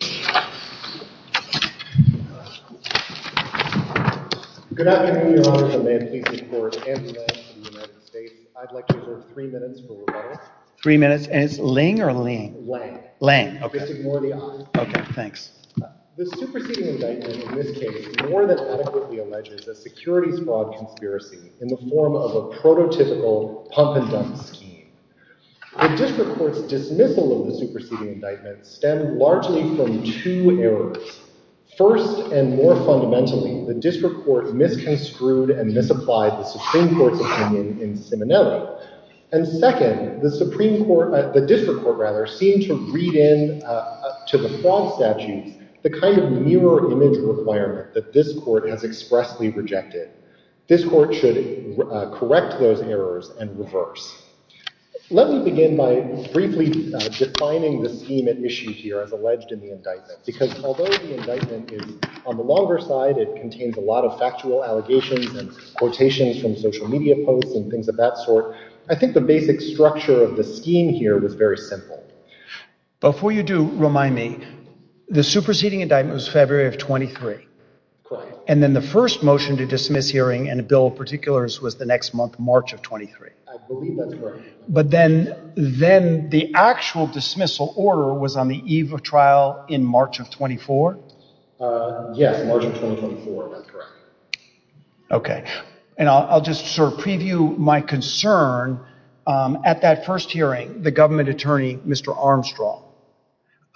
Good afternoon, Your Honor, and may it please the Court and the members of the United States. I'd like to defer three minutes for rebuttal. Three minutes, and it's Ling or Ling? Ling, okay. Just ignore the I. Okay, thanks. The superseding indictment in this case more than adequately alleges a securities fraud conspiracy in the form of a prototypical pump-and-dump scheme. The District Court's dismissal of the superseding indictment stemmed largely from two errors. First, and more fundamentally, the District Court misconstrued and misapplied the Supreme Court's opinion in Simonelli. And second, the District Court seemed to read in to the fraud statutes the kind of mirror image requirement that this Court has expressly rejected. This Court should correct those errors and reverse. Let me begin by briefly defining the scheme at issue here as alleged in the indictment. Because although the indictment is on the longer side, it contains a lot of factual allegations and quotations from social media posts and things of that sort, I think the basic structure of the scheme here was very simple. Before you do, remind me, the superseding indictment was February of 23. Correct. And then the first motion to dismiss hearing and a bill of particulars was the next month, March of 23. I believe that's correct. But then the actual dismissal order was on the eve of trial in March of 24? Yes, March of 2024. That's correct. Okay. And I'll just sort of preview my concern at that first hearing, the government attorney, Mr. Armstrong.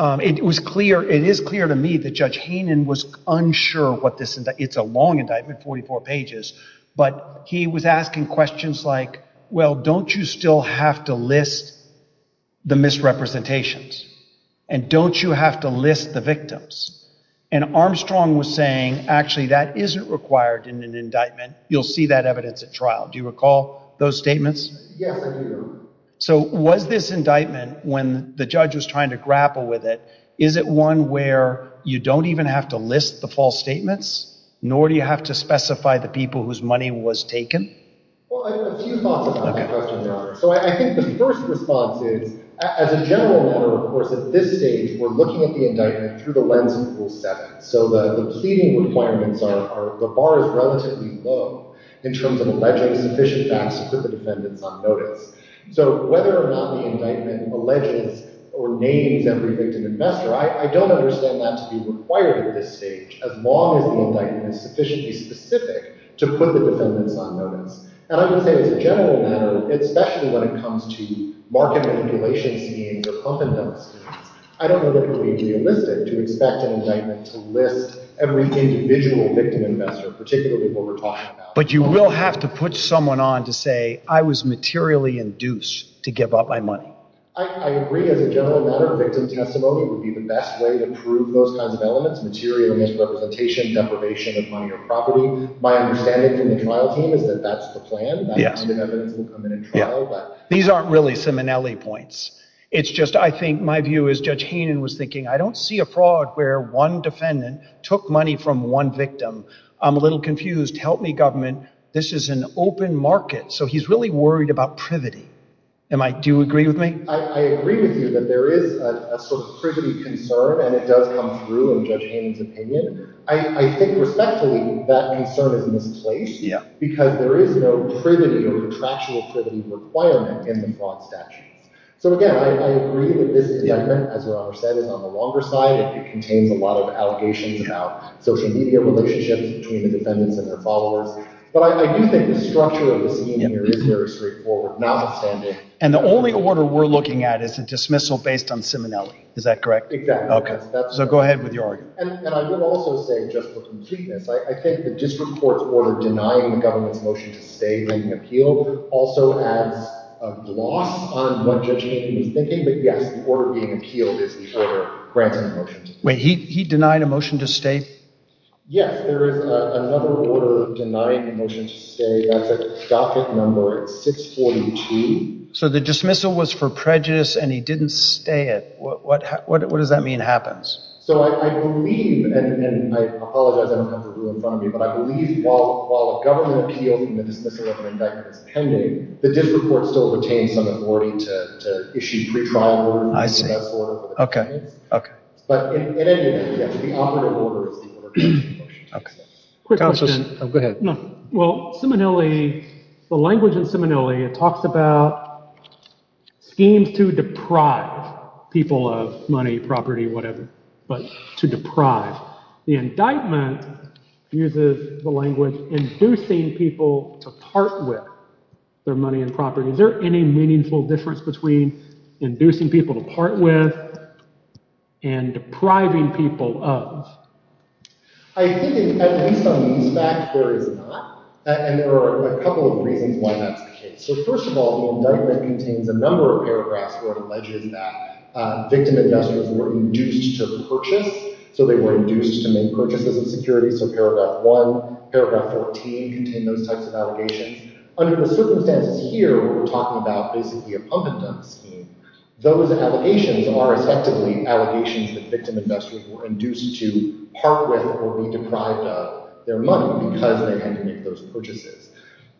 It was clear, it is clear to me that Judge Haynen was unsure what this, it's a long indictment, 44 pages, but he was asking questions like, well, don't you still have to list the misrepresentations? And don't you have to list the victims? And Armstrong was saying, actually, that isn't required in an indictment. You'll see that evidence at trial. Do you recall those statements? Yes, I do. So was this indictment, when the judge was trying to grapple with it, is it one where you don't even have to list the false statements? Nor do you have to specify the people whose money was taken? Well, I have a few thoughts about that question, Your Honor. So I think the first response is, as a general matter, of course, at this stage, we're looking at the indictment through the lens of Rule 7. So the pleading requirements are, the bar is relatively low in terms of alleging sufficient facts to put the defendants on notice. So whether or not the indictment alleges or names every victim investor, I don't understand that to be required at this stage, as long as the indictment is sufficiently specific to put the defendants on notice. And I would say as a general matter, especially when it comes to market manipulation schemes or pump-and-dump schemes, I don't know that it would be realistic to expect an indictment to list every individual victim investor, particularly what we're talking about. But you will have to put someone on to say, I was materially induced to give up my money. I agree, as a general matter, victim testimony would be the best way to prove those kinds of elements, material misrepresentation, deprivation of money or property. My understanding from the trial team is that that's the plan. That kind of evidence will come in at trial. These aren't really Simonelli points. It's just I think my view is, Judge Haynen was thinking, I don't see a fraud where one defendant took money from one victim. I'm a little confused. Help me, government. This is an open market. So he's really worried about privity. Do you agree with me? I agree with you that there is a sort of privity concern, and it does come through in Judge Haynen's opinion. I think respectfully that concern is misplaced because there is no privity or contractual privity requirement in the fraud statute. So again, I agree that this indictment, as Your Honor said, is on the longer side. It contains a lot of allegations about social media relationships between the defendants and their followers. But I do think the structure of the scene here is very straightforward, notwithstanding. And the only order we're looking at is a dismissal based on Simonelli. Is that correct? Exactly. Okay. So go ahead with your argument. And I would also say just for completeness, I think the district court's order denying the government's motion to stay being appealed also adds a gloss on what Judge Haynen was thinking. But yes, the order being appealed is the order granting the motion to stay. He denied a motion to stay? Yes. There is another order denying a motion to stay. That's a docket number. It's 642. So the dismissal was for prejudice, and he didn't stay it. What does that mean happens? So I believe – and I apologize. I don't have the rule in front of me. But I believe while the government appealed and the dismissal of an indictment is pending, the district court still retains some authority to issue retrial orders. I see. But in any event, yes, the operative order is the order granting the motion to stay. Quick question. Oh, go ahead. Well, Simonelli – the language in Simonelli, it talks about schemes to deprive people of money, property, whatever, but to deprive. The indictment uses the language inducing people to part with their money and property. Is there any meaningful difference between inducing people to part with and depriving people of? I think at least on these facts, there is not, and there are a couple of reasons why that's the case. So first of all, the indictment contains a number of paragraphs where it alleges that victim investors were induced to purchase. So they were induced to make purchases of securities. So paragraph 1, paragraph 14 contain those types of allegations. Under the circumstances here, we're talking about basically a pump-and-dump scheme. Those allegations are effectively allegations that victim investors were induced to part with or be deprived of their money because they had to make those purchases.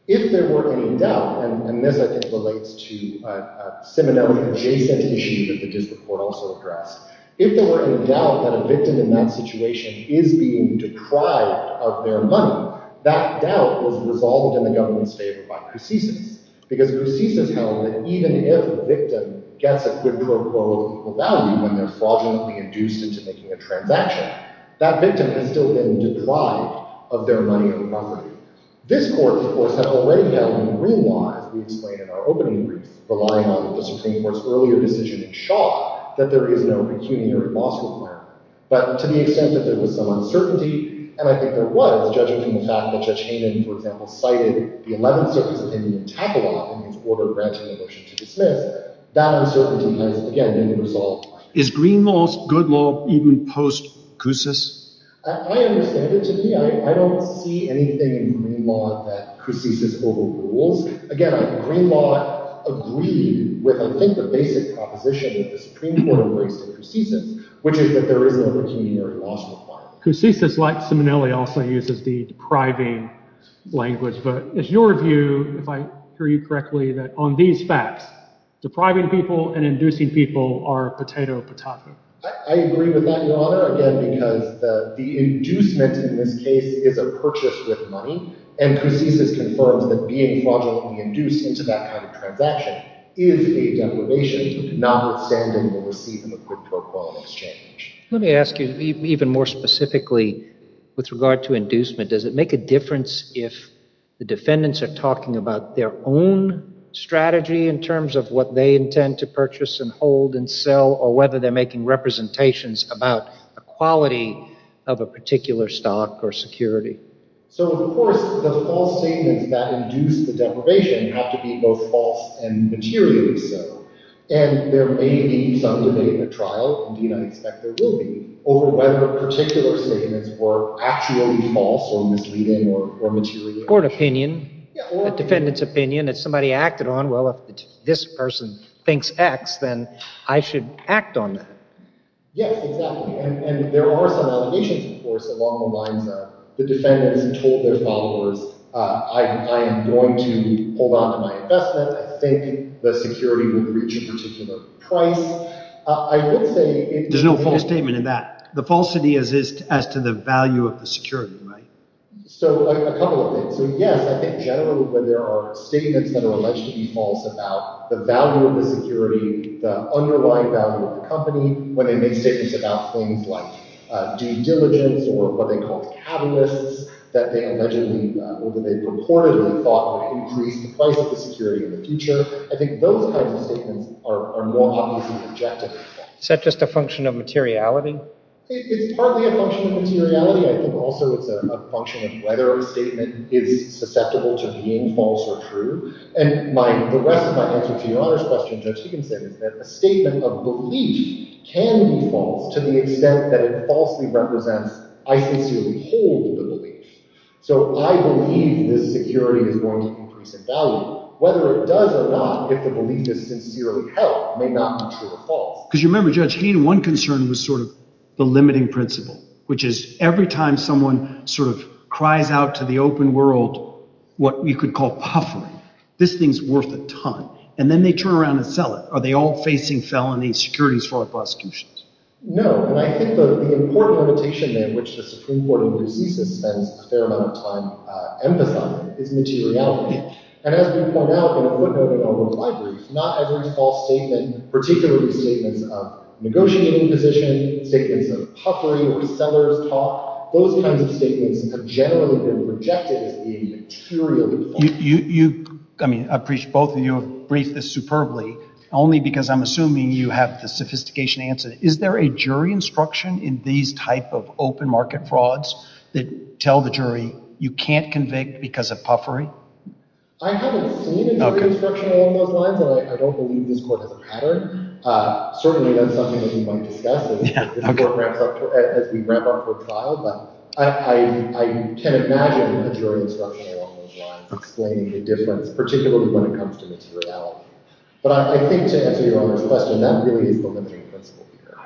If there were any doubt, and this I think relates to a Simonelli-adjacent issue that the district court also addressed, if there were any doubt that a victim in that situation is being deprived of their money, that doubt was resolved in the government's favor by prosthesis. Because prosthesis held that even if the victim gets a good pro quo of equal value when they're fraudulently induced into making a transaction, that victim has still been deprived of their money and property. This court, of course, had already done in the Green Law, as we explained in our opening brief, relying on the Supreme Court's earlier decision in Shaw that there is no pecuniary loss requirement. But to the extent that there was some uncertainty, and I think there was, judging from the fact that Judge Hayman, for example, cited the Eleventh Circuit's opinion in Takala in his order granting the motion to dismiss, that uncertainty has, again, been resolved. Is Green Law's good law even post-cousis? I understand it to me. I don't see anything in Green Law that cousisis overrules. Again, Green Law agreed with, I think, the basic proposition that the Supreme Court raised in cousisis, which is that there is no pecuniary loss requirement. Cousisis, like Simonelli, also uses the depriving language. But is your view, if I hear you correctly, that on these facts, depriving people and inducing people are potato patato? I agree with that, Your Honor, again, because the inducement in this case is a purchase with money. And cousisis confirms that being fraudulently induced into that kind of transaction is a deprivation, notwithstanding the receipt of a quick pro quo in exchange. Let me ask you even more specifically with regard to inducement. Does it make a difference if the defendants are talking about their own strategy in terms of what they intend to purchase and hold and sell, or whether they're making representations about the quality of a particular stock or security? So, of course, the false statements that induce the deprivation have to be both false and materially so. And there may be some debate in the trial, and I expect there will be, over whether particular statements were actually false or misleading or material. Or an opinion, a defendant's opinion that somebody acted on. Well, if this person thinks X, then I should act on that. Yes, exactly. And there are some allegations, of course, along the lines of the defendants told their followers, I am going to hold on to my investment. I think the security would reach a particular price. I would say— There's no false statement in that. The falsity is as to the value of the security, right? So, a couple of things. So, yes, I think generally when there are statements that are alleged to be false about the value of the security, the underlying value of the company, when they make statements about things like due diligence or what they call catalysts that they allegedly or that they purportedly thought would increase the price of the security in the future, I think those kinds of statements are more obviously objective. Is that just a function of materiality? It's partly a function of materiality. I think also it's a function of whether a statement is susceptible to being false or true. And the rest of my answer to Your Honor's question, Judge Higginson, is that a statement of belief can be false to the extent that it falsely represents, I sincerely hold the belief. So I believe this security is going to increase in value. Whether it does or not, if the belief is sincerely held, may not be true or false. Because you remember, Judge Hayden, one concern was sort of the limiting principle, which is every time someone sort of cries out to the open world what you could call puffering, this thing's worth a ton. And then they turn around and sell it. Are they all facing felony securities fraud prosecutions? No. And I think the important limitation in which the Supreme Court of New Jesus spends a fair amount of time emphasizing is materiality. And as we point out in a footnote in our own library, not every false statement, particularly statements of negotiating position, statements of puffery where sellers talk, those kinds of statements have generally been rejected as being materially false. I mean, I appreciate both of you have briefed this superbly, only because I'm assuming you have the sophistication to answer this. Is there a jury instruction in these type of open market frauds that tell the jury you can't convict because of puffery? I haven't seen a jury instruction along those lines, and I don't believe this court has a pattern. Certainly that's something that we might discuss as we wrap up for trial, but I can imagine a jury instruction along those lines explaining the difference, particularly when it comes to materiality. But I think to answer Your Honor's question, that really is the limiting principle here.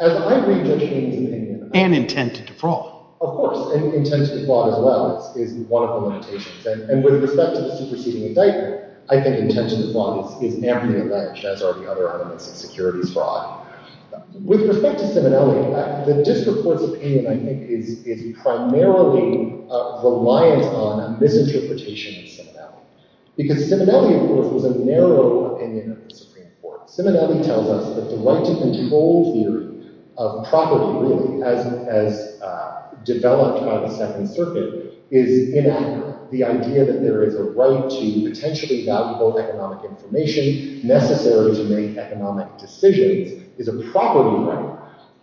As I read Judge Hayden's opinion— And intent to defraud. Of course, and intent to defraud as well is one of the limitations. And with respect to the superseding indictment, I think intent to defraud is narrowly alleged, as are the other elements of securities fraud. With respect to Simonelli, the district court's opinion, I think, is primarily reliant on a misinterpretation of Simonelli. Because Simonelli, of course, was a narrow opinion of the Supreme Court. Simonelli tells us that the right to control theory of property, really, as developed by the Second Circuit, is inaccurate. The idea that there is a right to potentially valuable economic information, necessary to make economic decisions, is a property right.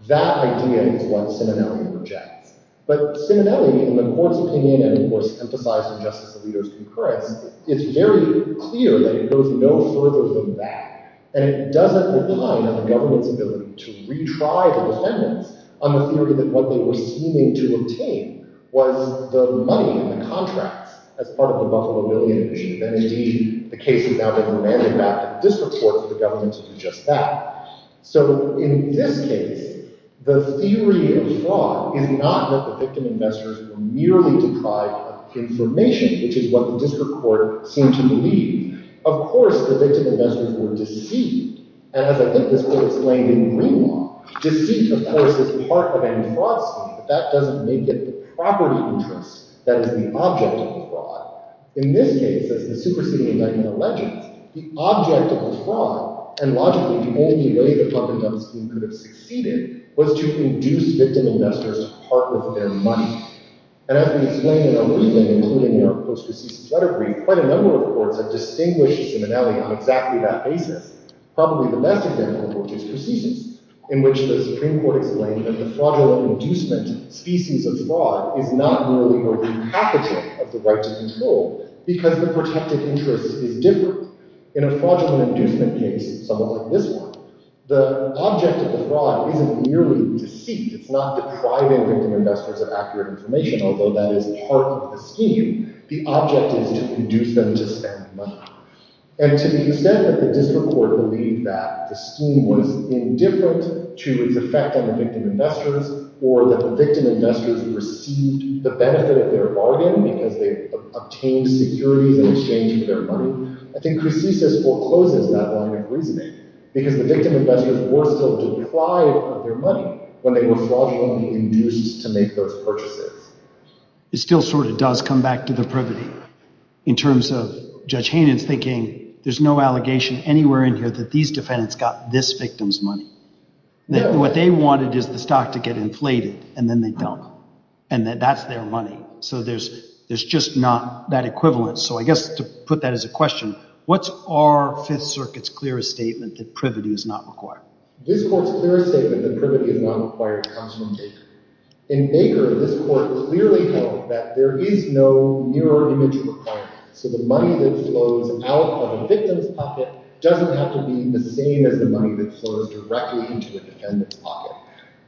That idea is what Simonelli rejects. But Simonelli, in the court's opinion, and of course emphasized in Justice Alito's concurrence, is very clear that it goes no further than that. And it doesn't rely on the government's ability to retry the defendants on the theory that what they were seeming to obtain was the money in the contracts as part of the Buffalo Billion issue. And indeed, the case is now being remanded back to the district court for the government to do just that. So in this case, the theory of fraud is not that the victim investors were merely deprived of information, which is what the district court seemed to believe. Of course, the victim investors were deceived. And as I think this court explained in Greenlaw, deceit, of course, is part of any fraud scheme, but that doesn't make it the property interest that is the object of the fraud. In this case, as the superseding indictment alleges, the object of the fraud, and logically the only way that Huffington's scheme could have succeeded, was to induce victim investors to part with their money. And as we explained in our briefing, including our post-receases letter brief, quite a number of courts have distinguished the simile on exactly that basis. Probably the best example of which is Precisus, in which the Supreme Court explained that the fraudulent inducement species of fraud is not merely a repackaging of the right to control, because the protected interest is different. In a fraudulent inducement case, somewhat like this one, the object of the fraud isn't merely deceit. It's not depriving victim investors of accurate information, although that is part of the scheme. The object is to induce them to spend money. And to the extent that the district court believed that the scheme was indifferent to its effect on the victim investors, or that the victim investors received the benefit of their bargain because they obtained securities in exchange for their money, I think Precisus forecloses that line of reasoning, because the victim investors were still deprived of their money when they were fraudulently induced to make those purchases. It still sort of does come back to the privity, in terms of Judge Hanen's thinking there's no allegation anywhere in here that these defendants got this victim's money. What they wanted is the stock to get inflated, and then they dump it. And that's their money. So there's just not that equivalence. So I guess to put that as a question, what's our Fifth Circuit's clearest statement that privity is not required? This court's clearest statement that privity is not required comes from Baker. In Baker, this court clearly held that there is no mirror image requirement. So the money that flows out of a victim's pocket doesn't have to be the same as the money that flows directly into a defendant's pocket.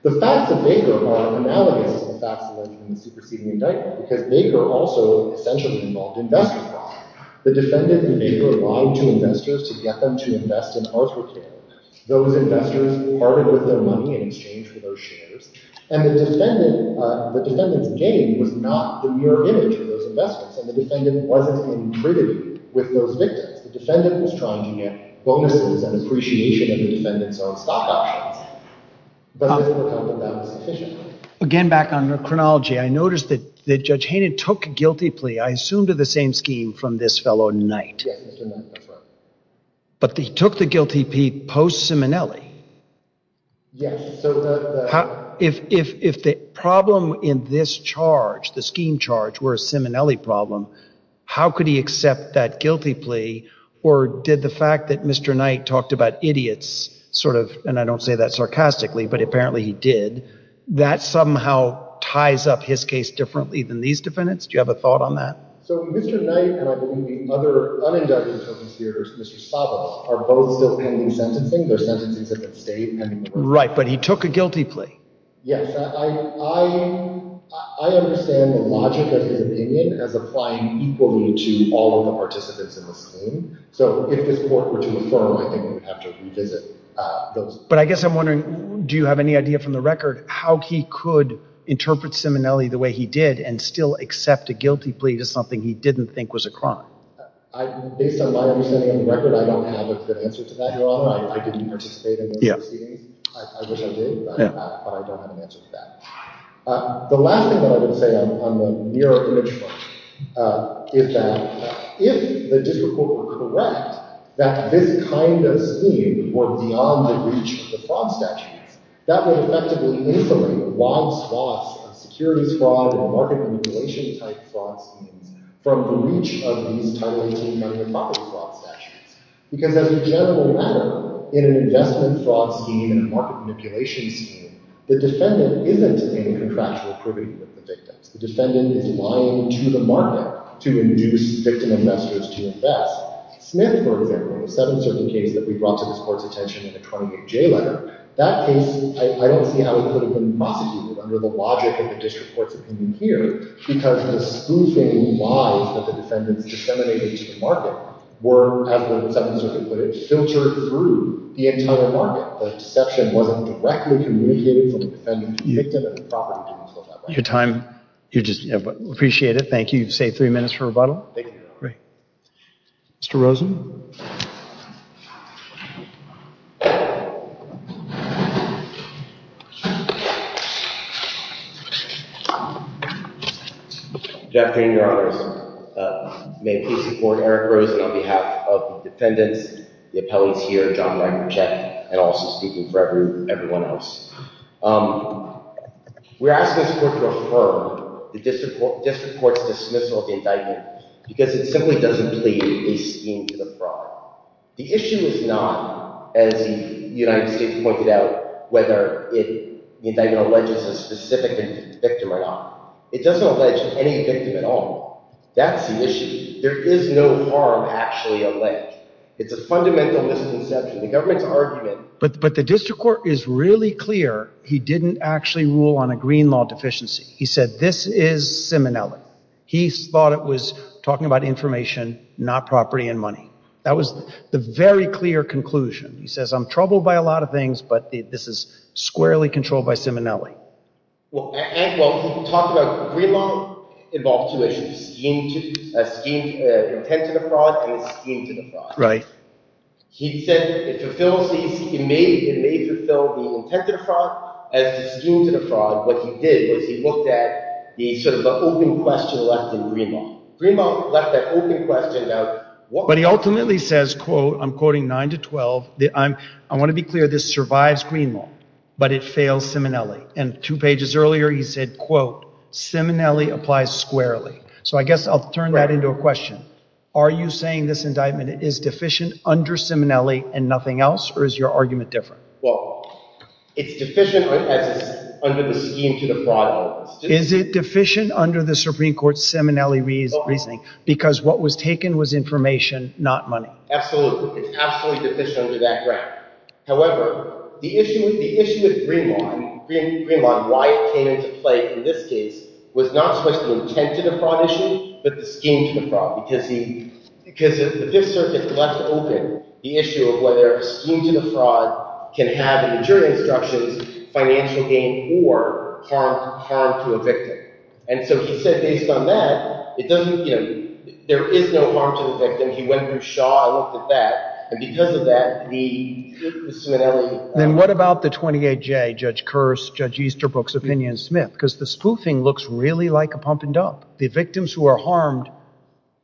The facts of Baker are analogous to the facts of the superseding indictment, because Baker also essentially involved investment fraud. The defendant and Baker lied to investors to get them to invest in Arthur Care. Those investors parted with their money in exchange for their shares, and the defendant's gain was not the mirror image of those investors, and the defendant wasn't in privity with those victims. The defendant was trying to get bonuses and appreciation of the defendants on stock options. But this court held that that was sufficient. Again, back on chronology, I noticed that Judge Hainan took guilty plea, I assume to the same scheme, from this fellow Knight. Yes, Mr. Knight, that's right. But he took the guilty plea post-Simonelli. Yes. If the problem in this charge, the scheme charge, were a Simonelli problem, how could he accept that guilty plea, or did the fact that Mr. Knight talked about idiots, sort of, and I don't say that sarcastically, but apparently he did, that somehow ties up his case differently than these defendants? Do you have a thought on that? So Mr. Knight and I believe the other uninducted attorneys here, Mr. Stavros, are both still pending sentencing. They're sentencing at the state. Right, but he took a guilty plea. Yes. I understand the logic of his opinion as applying equally to all of the participants in the scheme. So if this court were to affirm, I think we'd have to revisit those. But I guess I'm wondering, do you have any idea from the record how he could interpret Simonelli the way he did and still accept a guilty plea to something he didn't think was a crime? Based on my understanding of the record, I don't have a good answer to that, Your Honor. I didn't participate in those proceedings. I wish I did, but I don't have an answer to that. The last thing that I would say on the mirror image front is that if the district court were correct that this kind of scheme were beyond the reach of the fraud statutes, that would effectively incriminate the logs lost on securities fraud or market manipulation type fraud schemes from the reach of these Title 18 property fraud statutes. Because as a general matter, in an investment fraud scheme and a market manipulation scheme, the defendant isn't in contractual privy with the victims. The defendant is lying to the market to induce victim investors to invest. Smith, for example, in a seven-certain case that we brought to this court's attention in a 28-J letter, that case, I don't see how he could have been prosecuted under the logic of the district court's opinion here because the spoofing lies that the defendants disseminated to the market were, as the seven-certain put it, filtered through the entire market. The deception wasn't directly communicated from the defendant to the victim and the property didn't feel that way. Your time, I appreciate it. Thank you. You've saved three minutes for rebuttal. Thank you, Your Honor. Mr. Rosen? Jeff Payne, Your Honors. May it please the Court, Eric Rosen on behalf of the defendants, the appellees here, John Langercheck, and also speaking for everyone else. We're asking this Court to affirm the district court's dismissal of the indictment because it simply doesn't plead a scheme to the fraud. The issue is not, as the United States pointed out, whether the indictment alleges a specific victim or not. It doesn't allege any victim at all. That's the issue. There is no harm actually alleged. It's a fundamental misconception, the government's argument. But the district court is really clear he didn't actually rule on a green law deficiency. He said this is Simonelli. He thought it was talking about information, not property and money. That was the very clear conclusion. He says, I'm troubled by a lot of things, but this is squarely controlled by Simonelli. Well, he talked about green law involved two issues, a scheme intended to fraud and a scheme to the fraud. He said it may fulfill the intent of the fraud as the scheme to the fraud. What he did was he looked at the sort of open question left in green law. Green law left that open question out. But he ultimately says, I'm quoting 9 to 12, I want to be clear, this survives green law, but it fails Simonelli. And two pages earlier he said, quote, Simonelli applies squarely. So I guess I'll turn that into a question. Are you saying this indictment is deficient under Simonelli and nothing else, or is your argument different? Well, it's deficient as it's under the scheme to the fraud. Is it deficient under the Supreme Court's Simonelli reasoning because what was taken was information, not money? Absolutely. It's absolutely deficient under that ground. However, the issue with green law and why it came into play in this case was not so much the intent to the fraud issue but the scheme to the fraud because the Fifth Circuit left open the issue of whether a scheme to the fraud can have, in the jury instructions, financial gain or harm to a victim. And so he said based on that, there is no harm to the victim. He went through Shaw and looked at that. And because of that, the Simonelli- Then what about the 28J, Judge Kearse, Judge Easterbrook's opinion, and Smith? Because the spoofing looks really like a pump and dump. The victims who are harmed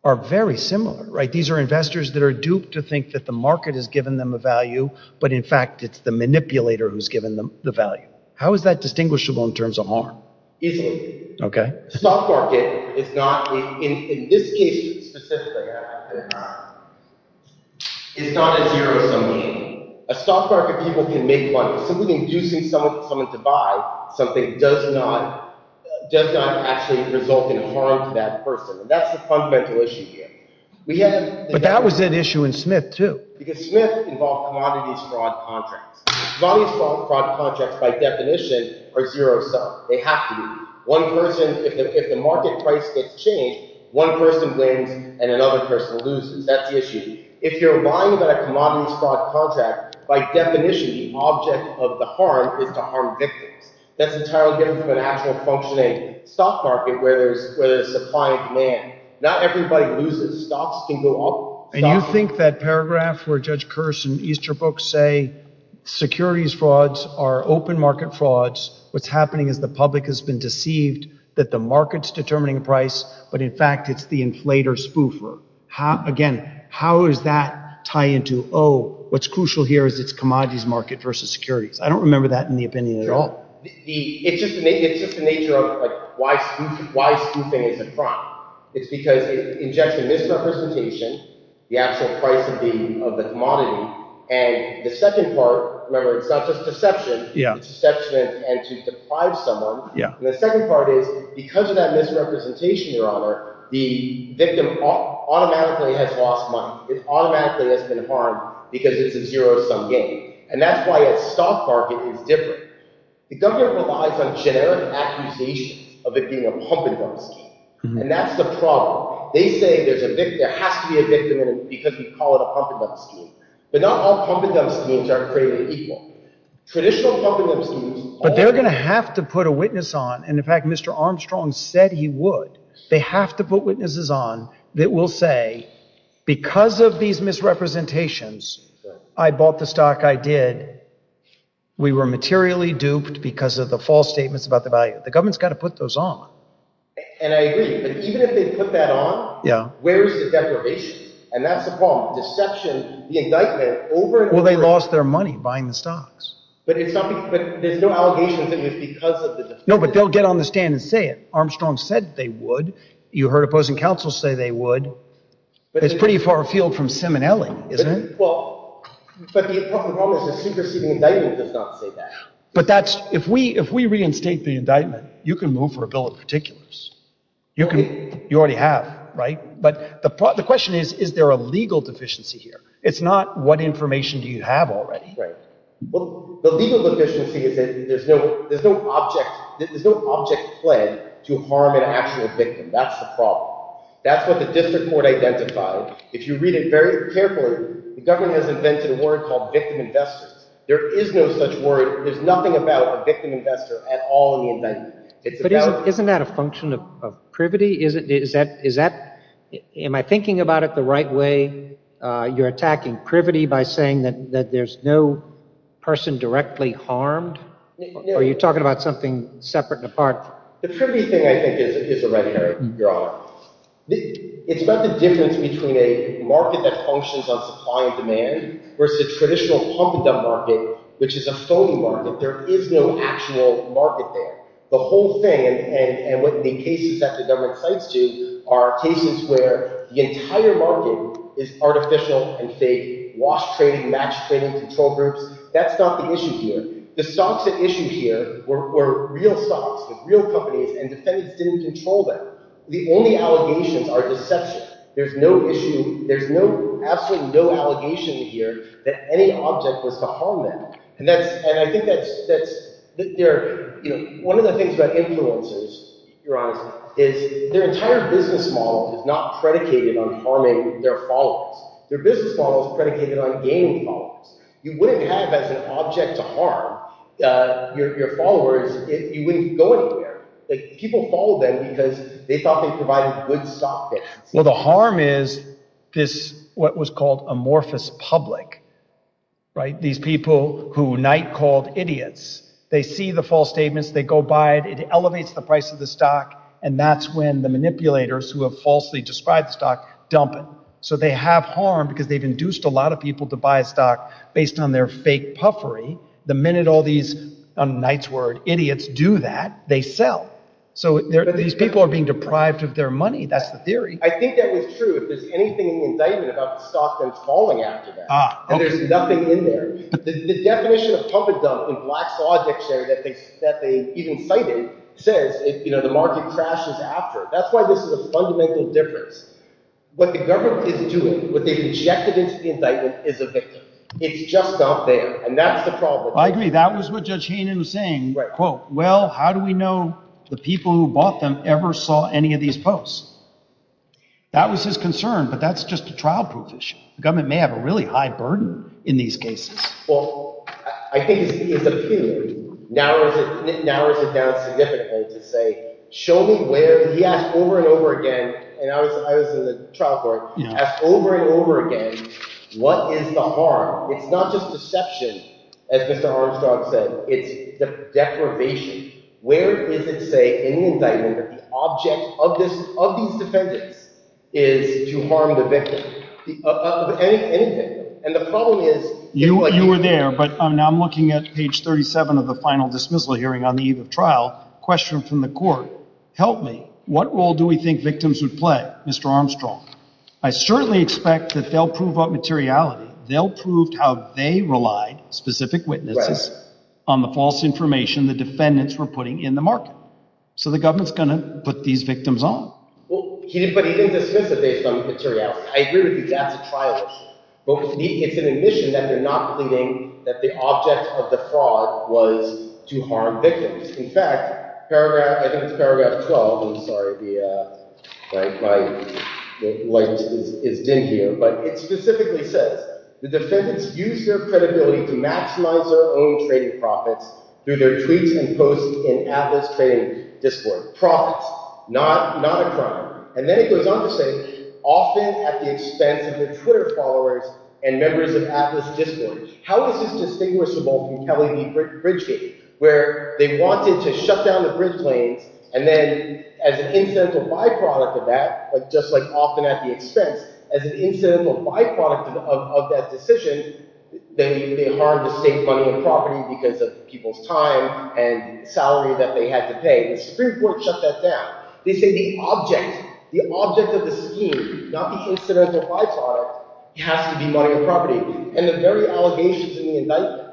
are very similar, right? These are investors that are duped to think that the market has given them a value, but in fact it's the manipulator who's given them the value. How is that distinguishable in terms of harm? Okay. But that was an issue in Smith too. If the market price gets changed, one person wins and another person loses. That's the issue. If you're lying about a commodities fraud contract, by definition the object of the harm is to harm victims. That's entirely different from an actual functioning stock market where there's supply and demand. Not everybody loses. Stocks can go up. And you think that paragraph where Judge Kearse and Easterbrook say securities frauds are open market frauds, what's happening is the public has been deceived that the market's determining the price, but in fact it's the inflator spoofer. Again, how does that tie into, oh, what's crucial here is it's commodities market versus securities? I don't remember that in the opinion at all. It's just the nature of why spoofing is a crime. It's because it injects a misrepresentation, the actual price of the commodity, and the second part, remember, it's not just deception, it's deception and to deprive someone. And the second part is because of that misrepresentation, Your Honor, the victim automatically has lost money. It automatically has been harmed because it's a zero-sum game. And that's why a stock market is different. The government relies on generic accusations of it being a pump-and-dump scheme, and that's the problem. They say there has to be a victim because we call it a pump-and-dump scheme. But not all pump-and-dump schemes are created equal. Traditional pump-and-dump schemes... But they're going to have to put a witness on, and, in fact, Mr. Armstrong said he would. They have to put witnesses on that will say, because of these misrepresentations, I bought the stock I did, we were materially duped because of the false statements about the value. The government's got to put those on. And I agree, but even if they put that on, where is the deprivation? And that's the problem. Deception, the indictment, over and over again... Well, they lost their money buying the stocks. But there's no allegation that it was because of the... No, but they'll get on the stand and say it. Armstrong said they would. You heard opposing counsel say they would. It's pretty far afield from Simonelli, isn't it? Well, but the important problem is the superseding indictment does not say that. But that's... If we reinstate the indictment, you can move for a bill of particulars. You already have, right? But the question is, is there a legal deficiency here? It's not what information do you have already. Right. Well, the legal deficiency is that there's no object... There's no object pled to harm an actual victim. That's the problem. That's what the district court identified. If you read it very carefully, the government has invented a word called victim investors. There is no such word. There's nothing about a victim investor at all in the indictment. But isn't that a function of privity? Is that... Am I thinking about it the right way? You're attacking privity by saying that there's no person directly harmed? Or are you talking about something separate and apart? The privity thing, I think, is a red herring, Your Honor. It's about the difference between a market that functions on supply and demand versus the traditional pump-and-dump market, which is a phony market. There is no actual market there. The whole thing, and what the cases that the government cites do, are cases where the entire market is artificial and fake, wash trading, match trading, control groups. That's not the issue here. The stocks at issue here were real stocks, real companies, and defendants didn't control them. The only allegations are deception. There's no issue. There's absolutely no allegation here that any object was to harm them. And I think that's... One of the things about influencers, Your Honor, is their entire business model is not predicated on harming their followers. Their business model is predicated on gaining followers. You wouldn't have as an object to harm your followers if you wouldn't go anywhere. People follow them because they thought they provided good stock. Well, the harm is this, what was called, amorphous public. These people who Knight called idiots. They see the false statements, they go buy it, it elevates the price of the stock, and that's when the manipulators who have falsely described the stock dump it. So they have harm because they've induced a lot of people to buy a stock based on their fake puffery. The minute all these, on Knight's word, idiots do that, they sell. So these people are being deprived of their money. That's the theory. I think that was true. If there's anything in the indictment about the stock then it's falling after that. And there's nothing in there. The definition of pump and dump in Black's logic that they even cited says the market crashes after. That's why this is a fundamental difference. What the government is doing, what they've injected into the indictment is a victim. It's just out there. And that's the problem. I agree, that was what Judge Heenan was saying. Well, how do we know the people who bought them ever saw any of these posts? That was his concern, but that's just a trial proof issue. The government may have a really high burden in these cases. I think his opinion narrows it down significantly to say, show me where he asked over and over again, and I was in the trial court, asked over and over again, what is the harm? It's not just deception, as Mr. Armstrong said, it's deprivation. Where is it saying in the indictment that the object of these defendants is to harm the victim? Any victim. You were there, but now I'm looking at page 37 of the final dismissal hearing on the eve of trial, a question from the court, help me, what role do we think victims would play, Mr. Armstrong? I certainly expect that they'll prove up materiality. They'll prove how they relied, specific witnesses, on the false information the defendants were putting in the market. So the government's going to put these victims on. But he didn't dismiss it based on materiality. I agree with you, that's a trial. But it's an admission that they're not believing that the object of the fraud was to harm victims. In fact, I think it's paragraph 12, sorry, my light is dim here, but it specifically says, the defendants used their credibility to maximize their own trading profits through their tweets and posts in Atlas Trading Discord. Profits, not a crime. And then it goes on to say, often at the expense of their Twitter followers and members of Atlas Discord. How is this distinguishable from Kelly v. Bridgegate? Where they wanted to shut down the bridge lanes, and then as an incidental byproduct of that, just like often at the expense, as an incidental byproduct of that decision, they harmed the state funding of property because of people's time and salary that they had to pay. The Supreme Court shut that down. They say the object, the object of the scheme, not the incidental byproduct, has to be money or property. And the very allegations in the indictment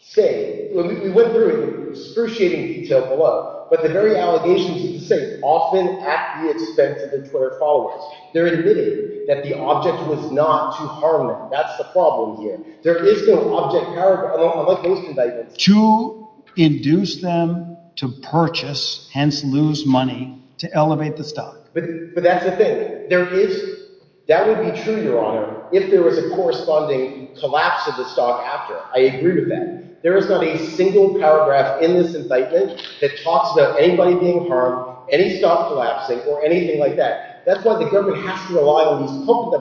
say, we went through it in excruciating detail below, but the very allegations say often at the expense of the Twitter followers. They're admitting that the object was not to harm them. That's the problem here. There is no object, I like most indictments. To induce them to purchase, hence lose money, to elevate the stock. But that's the thing. There is that would be true, Your Honor, if there was a corresponding collapse of the stock after. I agree with that. There is not a single paragraph in this indictment that talks about anybody being harmed, any stock collapsing, or anything like that. That's why the government has to rely on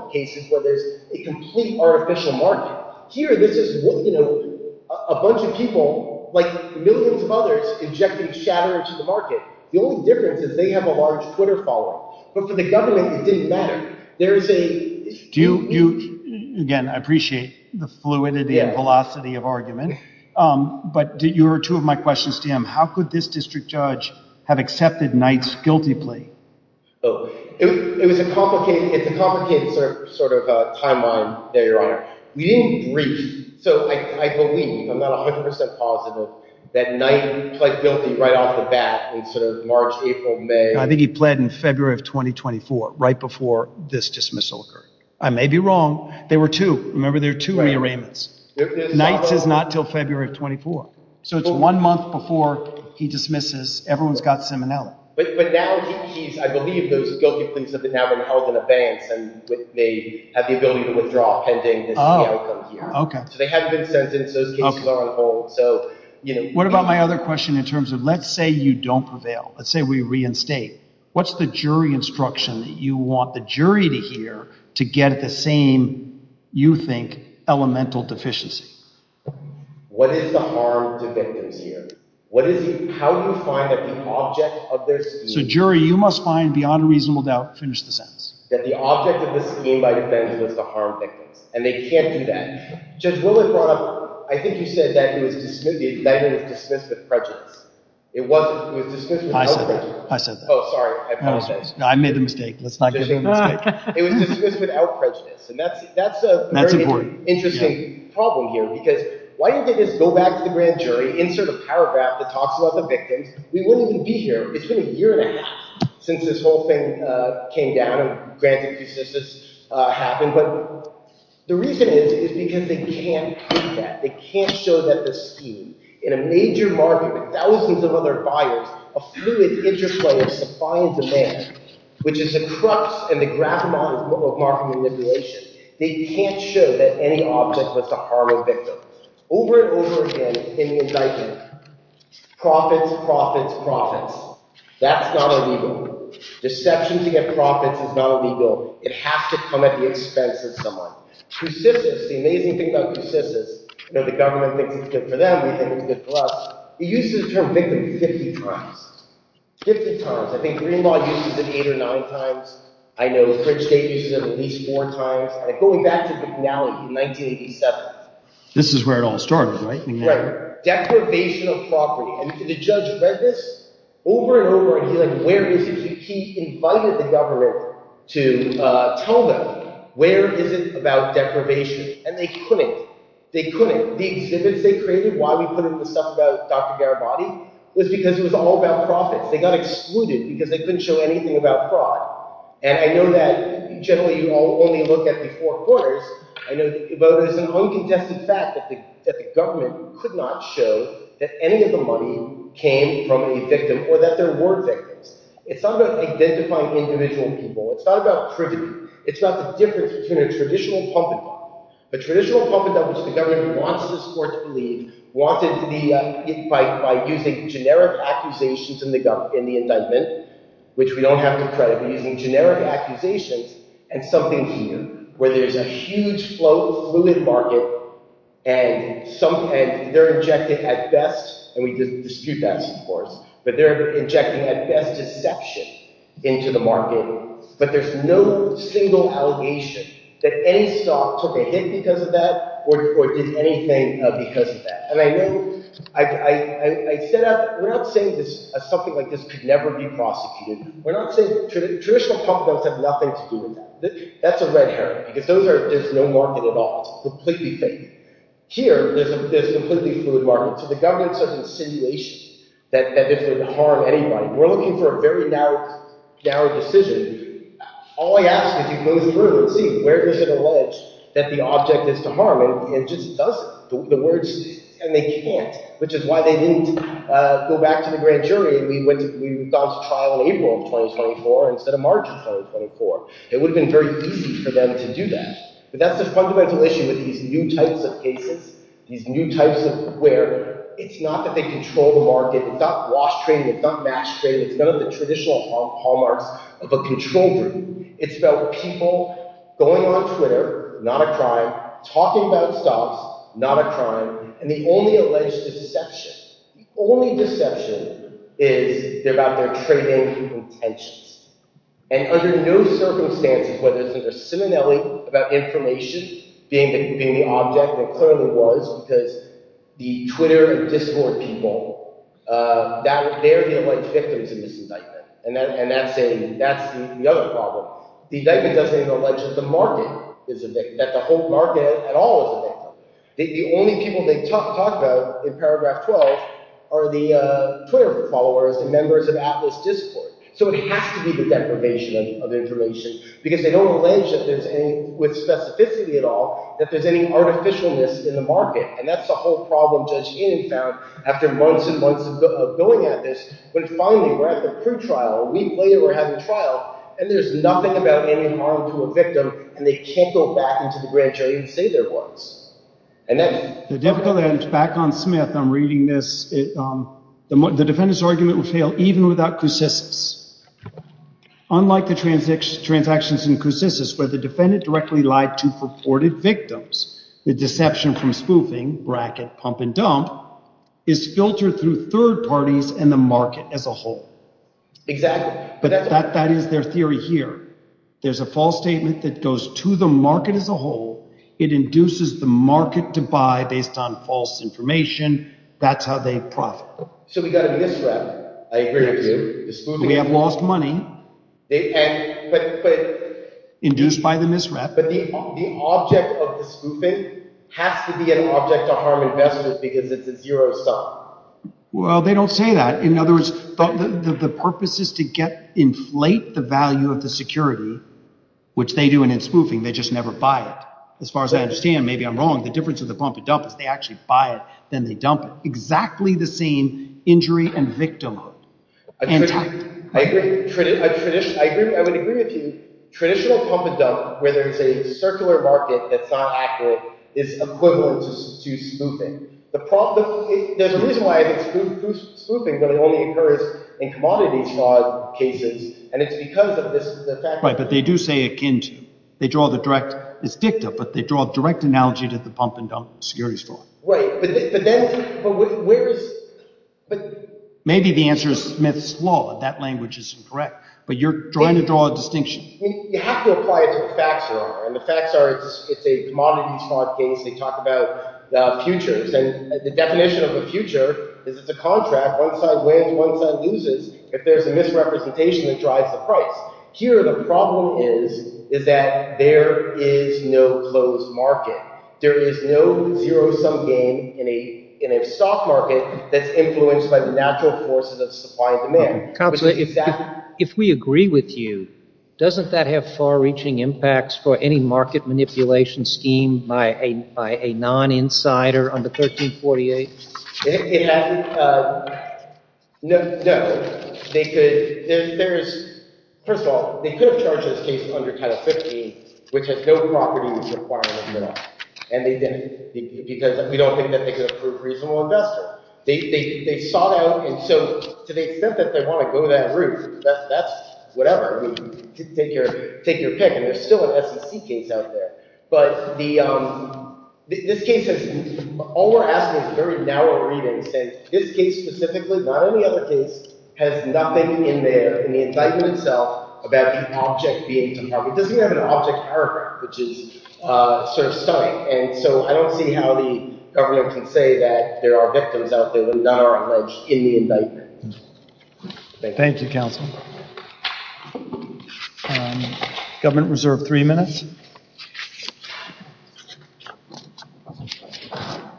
these cases where there's a complete artificial market. Here, this is a bunch of people, like millions of others, injecting shatter into the market. The only difference is they have a large Twitter following. But for the government, it didn't matter. There is a... Again, I appreciate the fluidity and velocity of argument, but you were two of my questions to him. How could this district judge have accepted Knight's guilty plea? It's a complicated timeline, Your Honor. We didn't brief. I believe, I'm not 100% positive, that Knight pled guilty right off the bat in March, April, May. I think he pled in February of 2024, right before this dismissal occurred. I may be wrong. There were two. Remember, there were two rearrangements. Knight's is not until February of 2024. So it's one month before he dismisses. Everyone's got Simonelli. I believe those guilty pleas have been held in abeyance. They have the ability to withdraw pending this outcome here. They haven't been sentenced. Those cases are on hold. What about my other question in terms of, let's say you don't prevail. Let's say we reinstate. What's the jury instruction that you want the jury to hear to get the same, you think, elemental deficiency? What is the harm to victims here? How do you find that the object of their... So, jury, you must find, beyond a reasonable doubt, finish the sentence. That the object of this scheme, by defense, was to harm victims. And they can't do that. Judge Willard brought up, I think you said that it was dismissed with prejudice. It wasn't. It was dismissed without prejudice. I said that. I said that. Oh, sorry. I apologize. I made a mistake. Let's not give him a mistake. It was dismissed without prejudice. And that's a very interesting problem here because why don't they just go back to the grand jury, insert a paragraph that talks about the victims. We wouldn't even be here. It's been a year since this whole thing came down. Granted, since this happened. But the reason is, is because they can't prove that. They can't show that the scheme, in a major market with thousands of other buyers, a fluid interplay of supply and demand, which is the crux and the gravimodal of market manipulation, they can't show that any object was to harm a victim. Over and over again, in the indictment, profits, profits, profits. That's not illegal. Deception to get profits is not illegal. It has to come at the expense of someone. The amazing thing about Coussis is that the government thinks it's good for them, they think it's good for us. He uses the term victim 50 times. 50 times. I think Greenlaw uses it 8 or 9 times. I know Bridgegate uses it at least 4 times. Going back to McNally in 1987. This is where it all started, right? Right. Deprivation of property. And the judge read this over and over and he's like, where is it? He invited the government to tell them where is it about deprivation? And they couldn't. They couldn't. The exhibits they created, why we put in the stuff about Dr. Garibaldi, was because it was all about profits. They got excluded because they couldn't show anything about fraud. And I know that generally you only look at the four quarters, but there's an uncontested fact that the government could not show that any of the money came from a victim or that there were victims. It's not about identifying individual people. It's not about privity. It's about the difference between a traditional pump and dump. A traditional pump and dump, which the government wants this court to believe, by using generic accusations in the indictment, which we don't have to credit, but using generic accusations and something here, where there's a huge, fluid market and they're injecting at best, and we dispute that, of course, but they're injecting at best deception into the market. But there's no single allegation that any stock took a hit because of that or did anything because of that. And I know we're not saying something like this could never be prosecuted. We're not saying traditional pump and dumps have nothing to do with that. That's a red herring, because there's no market at all. It's completely fake. Here, there's a completely fluid market. So the government's in a situation that this would harm anybody. We're looking for a very narrow decision. All I ask is you go through and see where does it allege that the object is to harm, and it just doesn't. The words, and they can't, which is why they didn't go back to the grand jury. We've gone to trial in April of 2024 instead of March of 2024. It would have been very easy for them to do that. But that's the fundamental issue with these new types of cases, these new types of where it's not that they control the market, it's not wash trading, it's not match trading, it's none of the traditional hallmarks of a control group. It's about people going on Twitter, not a crime, talking about stocks, not a crime, and the only alleged deception, the only deception is about their trading intentions. And under no circumstances whether it's under Simonelli about information being the object, and it clearly was, because the Twitter discord people, they're the alleged victims of this indictment. And that's the other problem. The indictment doesn't even allege that the whole market at all is a victim. The only people they talk about in paragraph 12 are the Twitter followers, the members of this discord. So it has to be the deprivation of information, because they don't allege that there's any, with specificity at all, that there's any artificialness in the market. And that's the whole problem Judge Heenan found after months and months of going at this, when finally we're at the pre-trial, a week later we're having trial, and there's nothing about any harm to a victim, and they can't go back into the grand jury and say there was. The difficult end, back on Smith, I'm reading this, the defendant's argument would fail even without Coussis. Unlike the transactions in Coussis, where the defendant directly lied to purported victims, the deception from spoofing, bracket, pump and dump, is filtered through third parties and the market as a whole. Exactly. But that is their theory here. There's a false statement that goes to the market as a whole, it induces the market to buy based on false information, that's how they profit. So we got a misrep. I agree with you. We have lost money. Induced by the misrep. But the object of the spoofing has to be an object to harm investors because it's a zero sum. Well, they don't say that. In other words, the purpose is to inflate the value of the security, which they do and in spoofing, they just never buy it. As far as I understand, maybe I'm wrong, the difference of the pump and dump is they actually buy it then they dump it. Exactly the same injury and victimhood. I would agree with you. Traditional pump and dump, where there's a circular market that's not accurate is equivalent to spoofing. There's a reason why it's spoofing but it only occurs in commodities cases and it's because of this effect. Right, but they do say akin to. They draw the direct, it's dicta, but they draw a direct analogy to the pump and dump security story. Maybe the answer is Smith's Law, but that language is incorrect. But you're trying to draw a distinction. You have to apply it to the facts. The facts are it's a commodities market, they talk about futures and the definition of a future is it's a contract, one side wins, one side loses, if there's a misrepresentation that drives the price. Here the problem is that there is no closed market. There is no zero-sum game in a stock market that's influenced by the natural forces of supply and demand. Counselor, if we agree with you, doesn't that have far-reaching impacts for any market manipulation scheme by a non-insider under 1348? No. First of all, they could have charged this case under Title 15 which has no property requirements at all. We don't think that they could have proved reasonable investment. To the extent that they want to go that route, that's whatever. Take your pick. There's still an SEC case out there. All we're asking is very narrow readings. This case specifically, not any other case, has nothing in the indictment itself about the object being to cover. It doesn't even have an object paragraph, which is sort of stunning. I don't see how the government can say that there are victims out there when none are alleged in the indictment. Thank you, Counselor. Government reserve three minutes.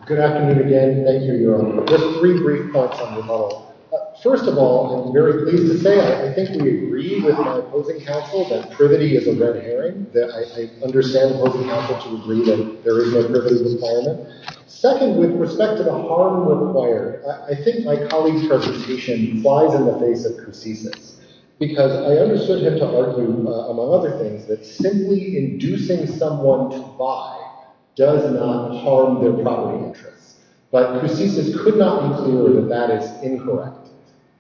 Good afternoon again. Thank you, Your Honor. Just three brief thoughts on the whole. First of all, I'm very pleased to say I think we agree with my opposing counsel that privity is a red herring, that I understand the opposing counsel to agree that there is no privity requirement. Second, with respect to the harm required, I think my colleague's presentation flies in the face of Cursiss's because I understood him to argue, among other things, that simply inducing someone to buy does not harm their property interests. But Cursiss's could not be correct.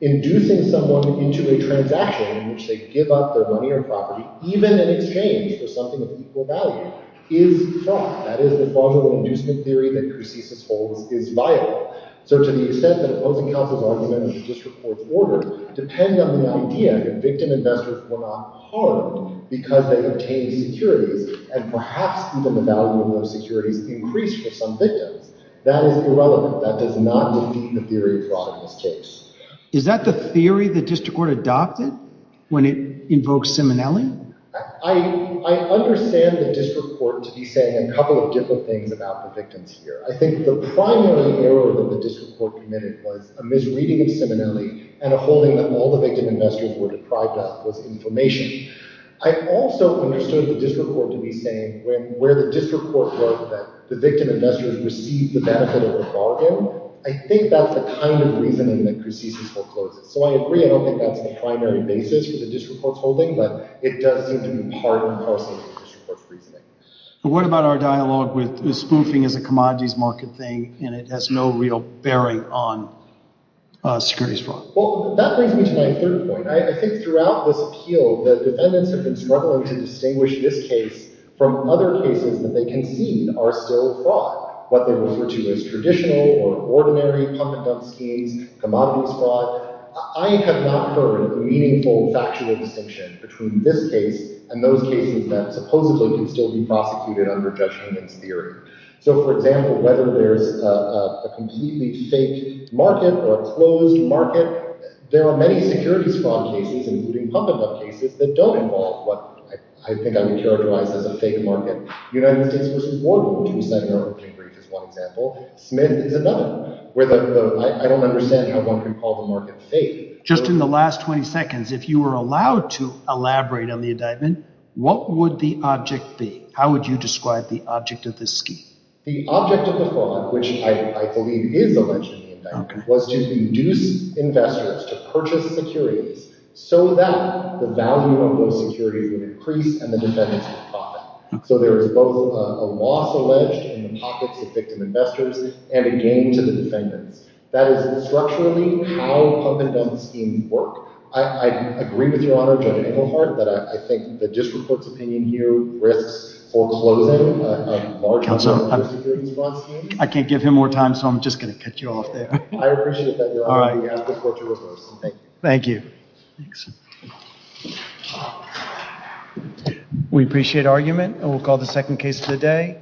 Inducing someone into a transaction in which they give up their money or property, even in exchange for something of equal value, is fraud. That is, the fraudulent inducement theory that Cursiss's holds is viable. So to the extent that opposing counsel's argument of the district court's order depend on the idea that victim investors were not harmed because they obtained securities and perhaps even the value of those securities increased for some victims, that is irrelevant. That does not defeat the theory of fraud in this case. Is that the theory the district court adopted when it invokes Simonelli? I understand the district court to be saying a couple of different things about the victims here. I think the primary error that the district court committed was a misreading of Simonelli and a holding that all the victim investors were deprived of was information. I also understood the district court to be saying where the district court wrote that the victim investors received the benefit of a bargain. I think that's the kind of reasoning that Cursiss's hold closes. So I agree, I don't think that's the primary basis for the district court's holding, but it does seem to be part and parcel of the district court's reasoning. But what about our dialogue with spoofing as a commodities market thing and it has no real bearing on securities fraud? Well, that brings me to my third point. I think throughout this appeal, the defendants have been struggling to distinguish this case from other cases that they concede are still fraud. What they refer to as traditional or ordinary pump-and-dump schemes, commodities fraud. I have not heard a meaningful, factual distinction between this case and those cases that supposedly can still be prosecuted under Judge Newman's theory. So for example, whether there's a completely fake market or a closed market, there are many securities fraud cases including pump-and-dump cases that don't involve what I think I would characterize as a fake market. United States v. Warhol, who was sent an opening brief as one example. Smith is another where I don't understand how one can call the market fake. Just in the last 20 seconds, if you were allowed to elaborate on the indictment, what would the object be? How would you describe the object of this scheme? The object of the fraud, which I believe is alleged in the indictment, was to induce investors to purchase securities so that the value of those securities would increase and the defendants would profit. So there is both a loss alleged in the pockets of victim investors and a gain to the defendants. That is structurally how pump-and-dump schemes work. I agree with Your Honor, Judge Engelhardt, that I think the district court's opinion here risks foreclosing a large part of the securities fraud scheme. I can't give him more time, so I'm just going to cut you off there. I appreciate that, Your Honor, but you have the floor to reverse. Thank you. We appreciate argument, and we'll call the second case of the day.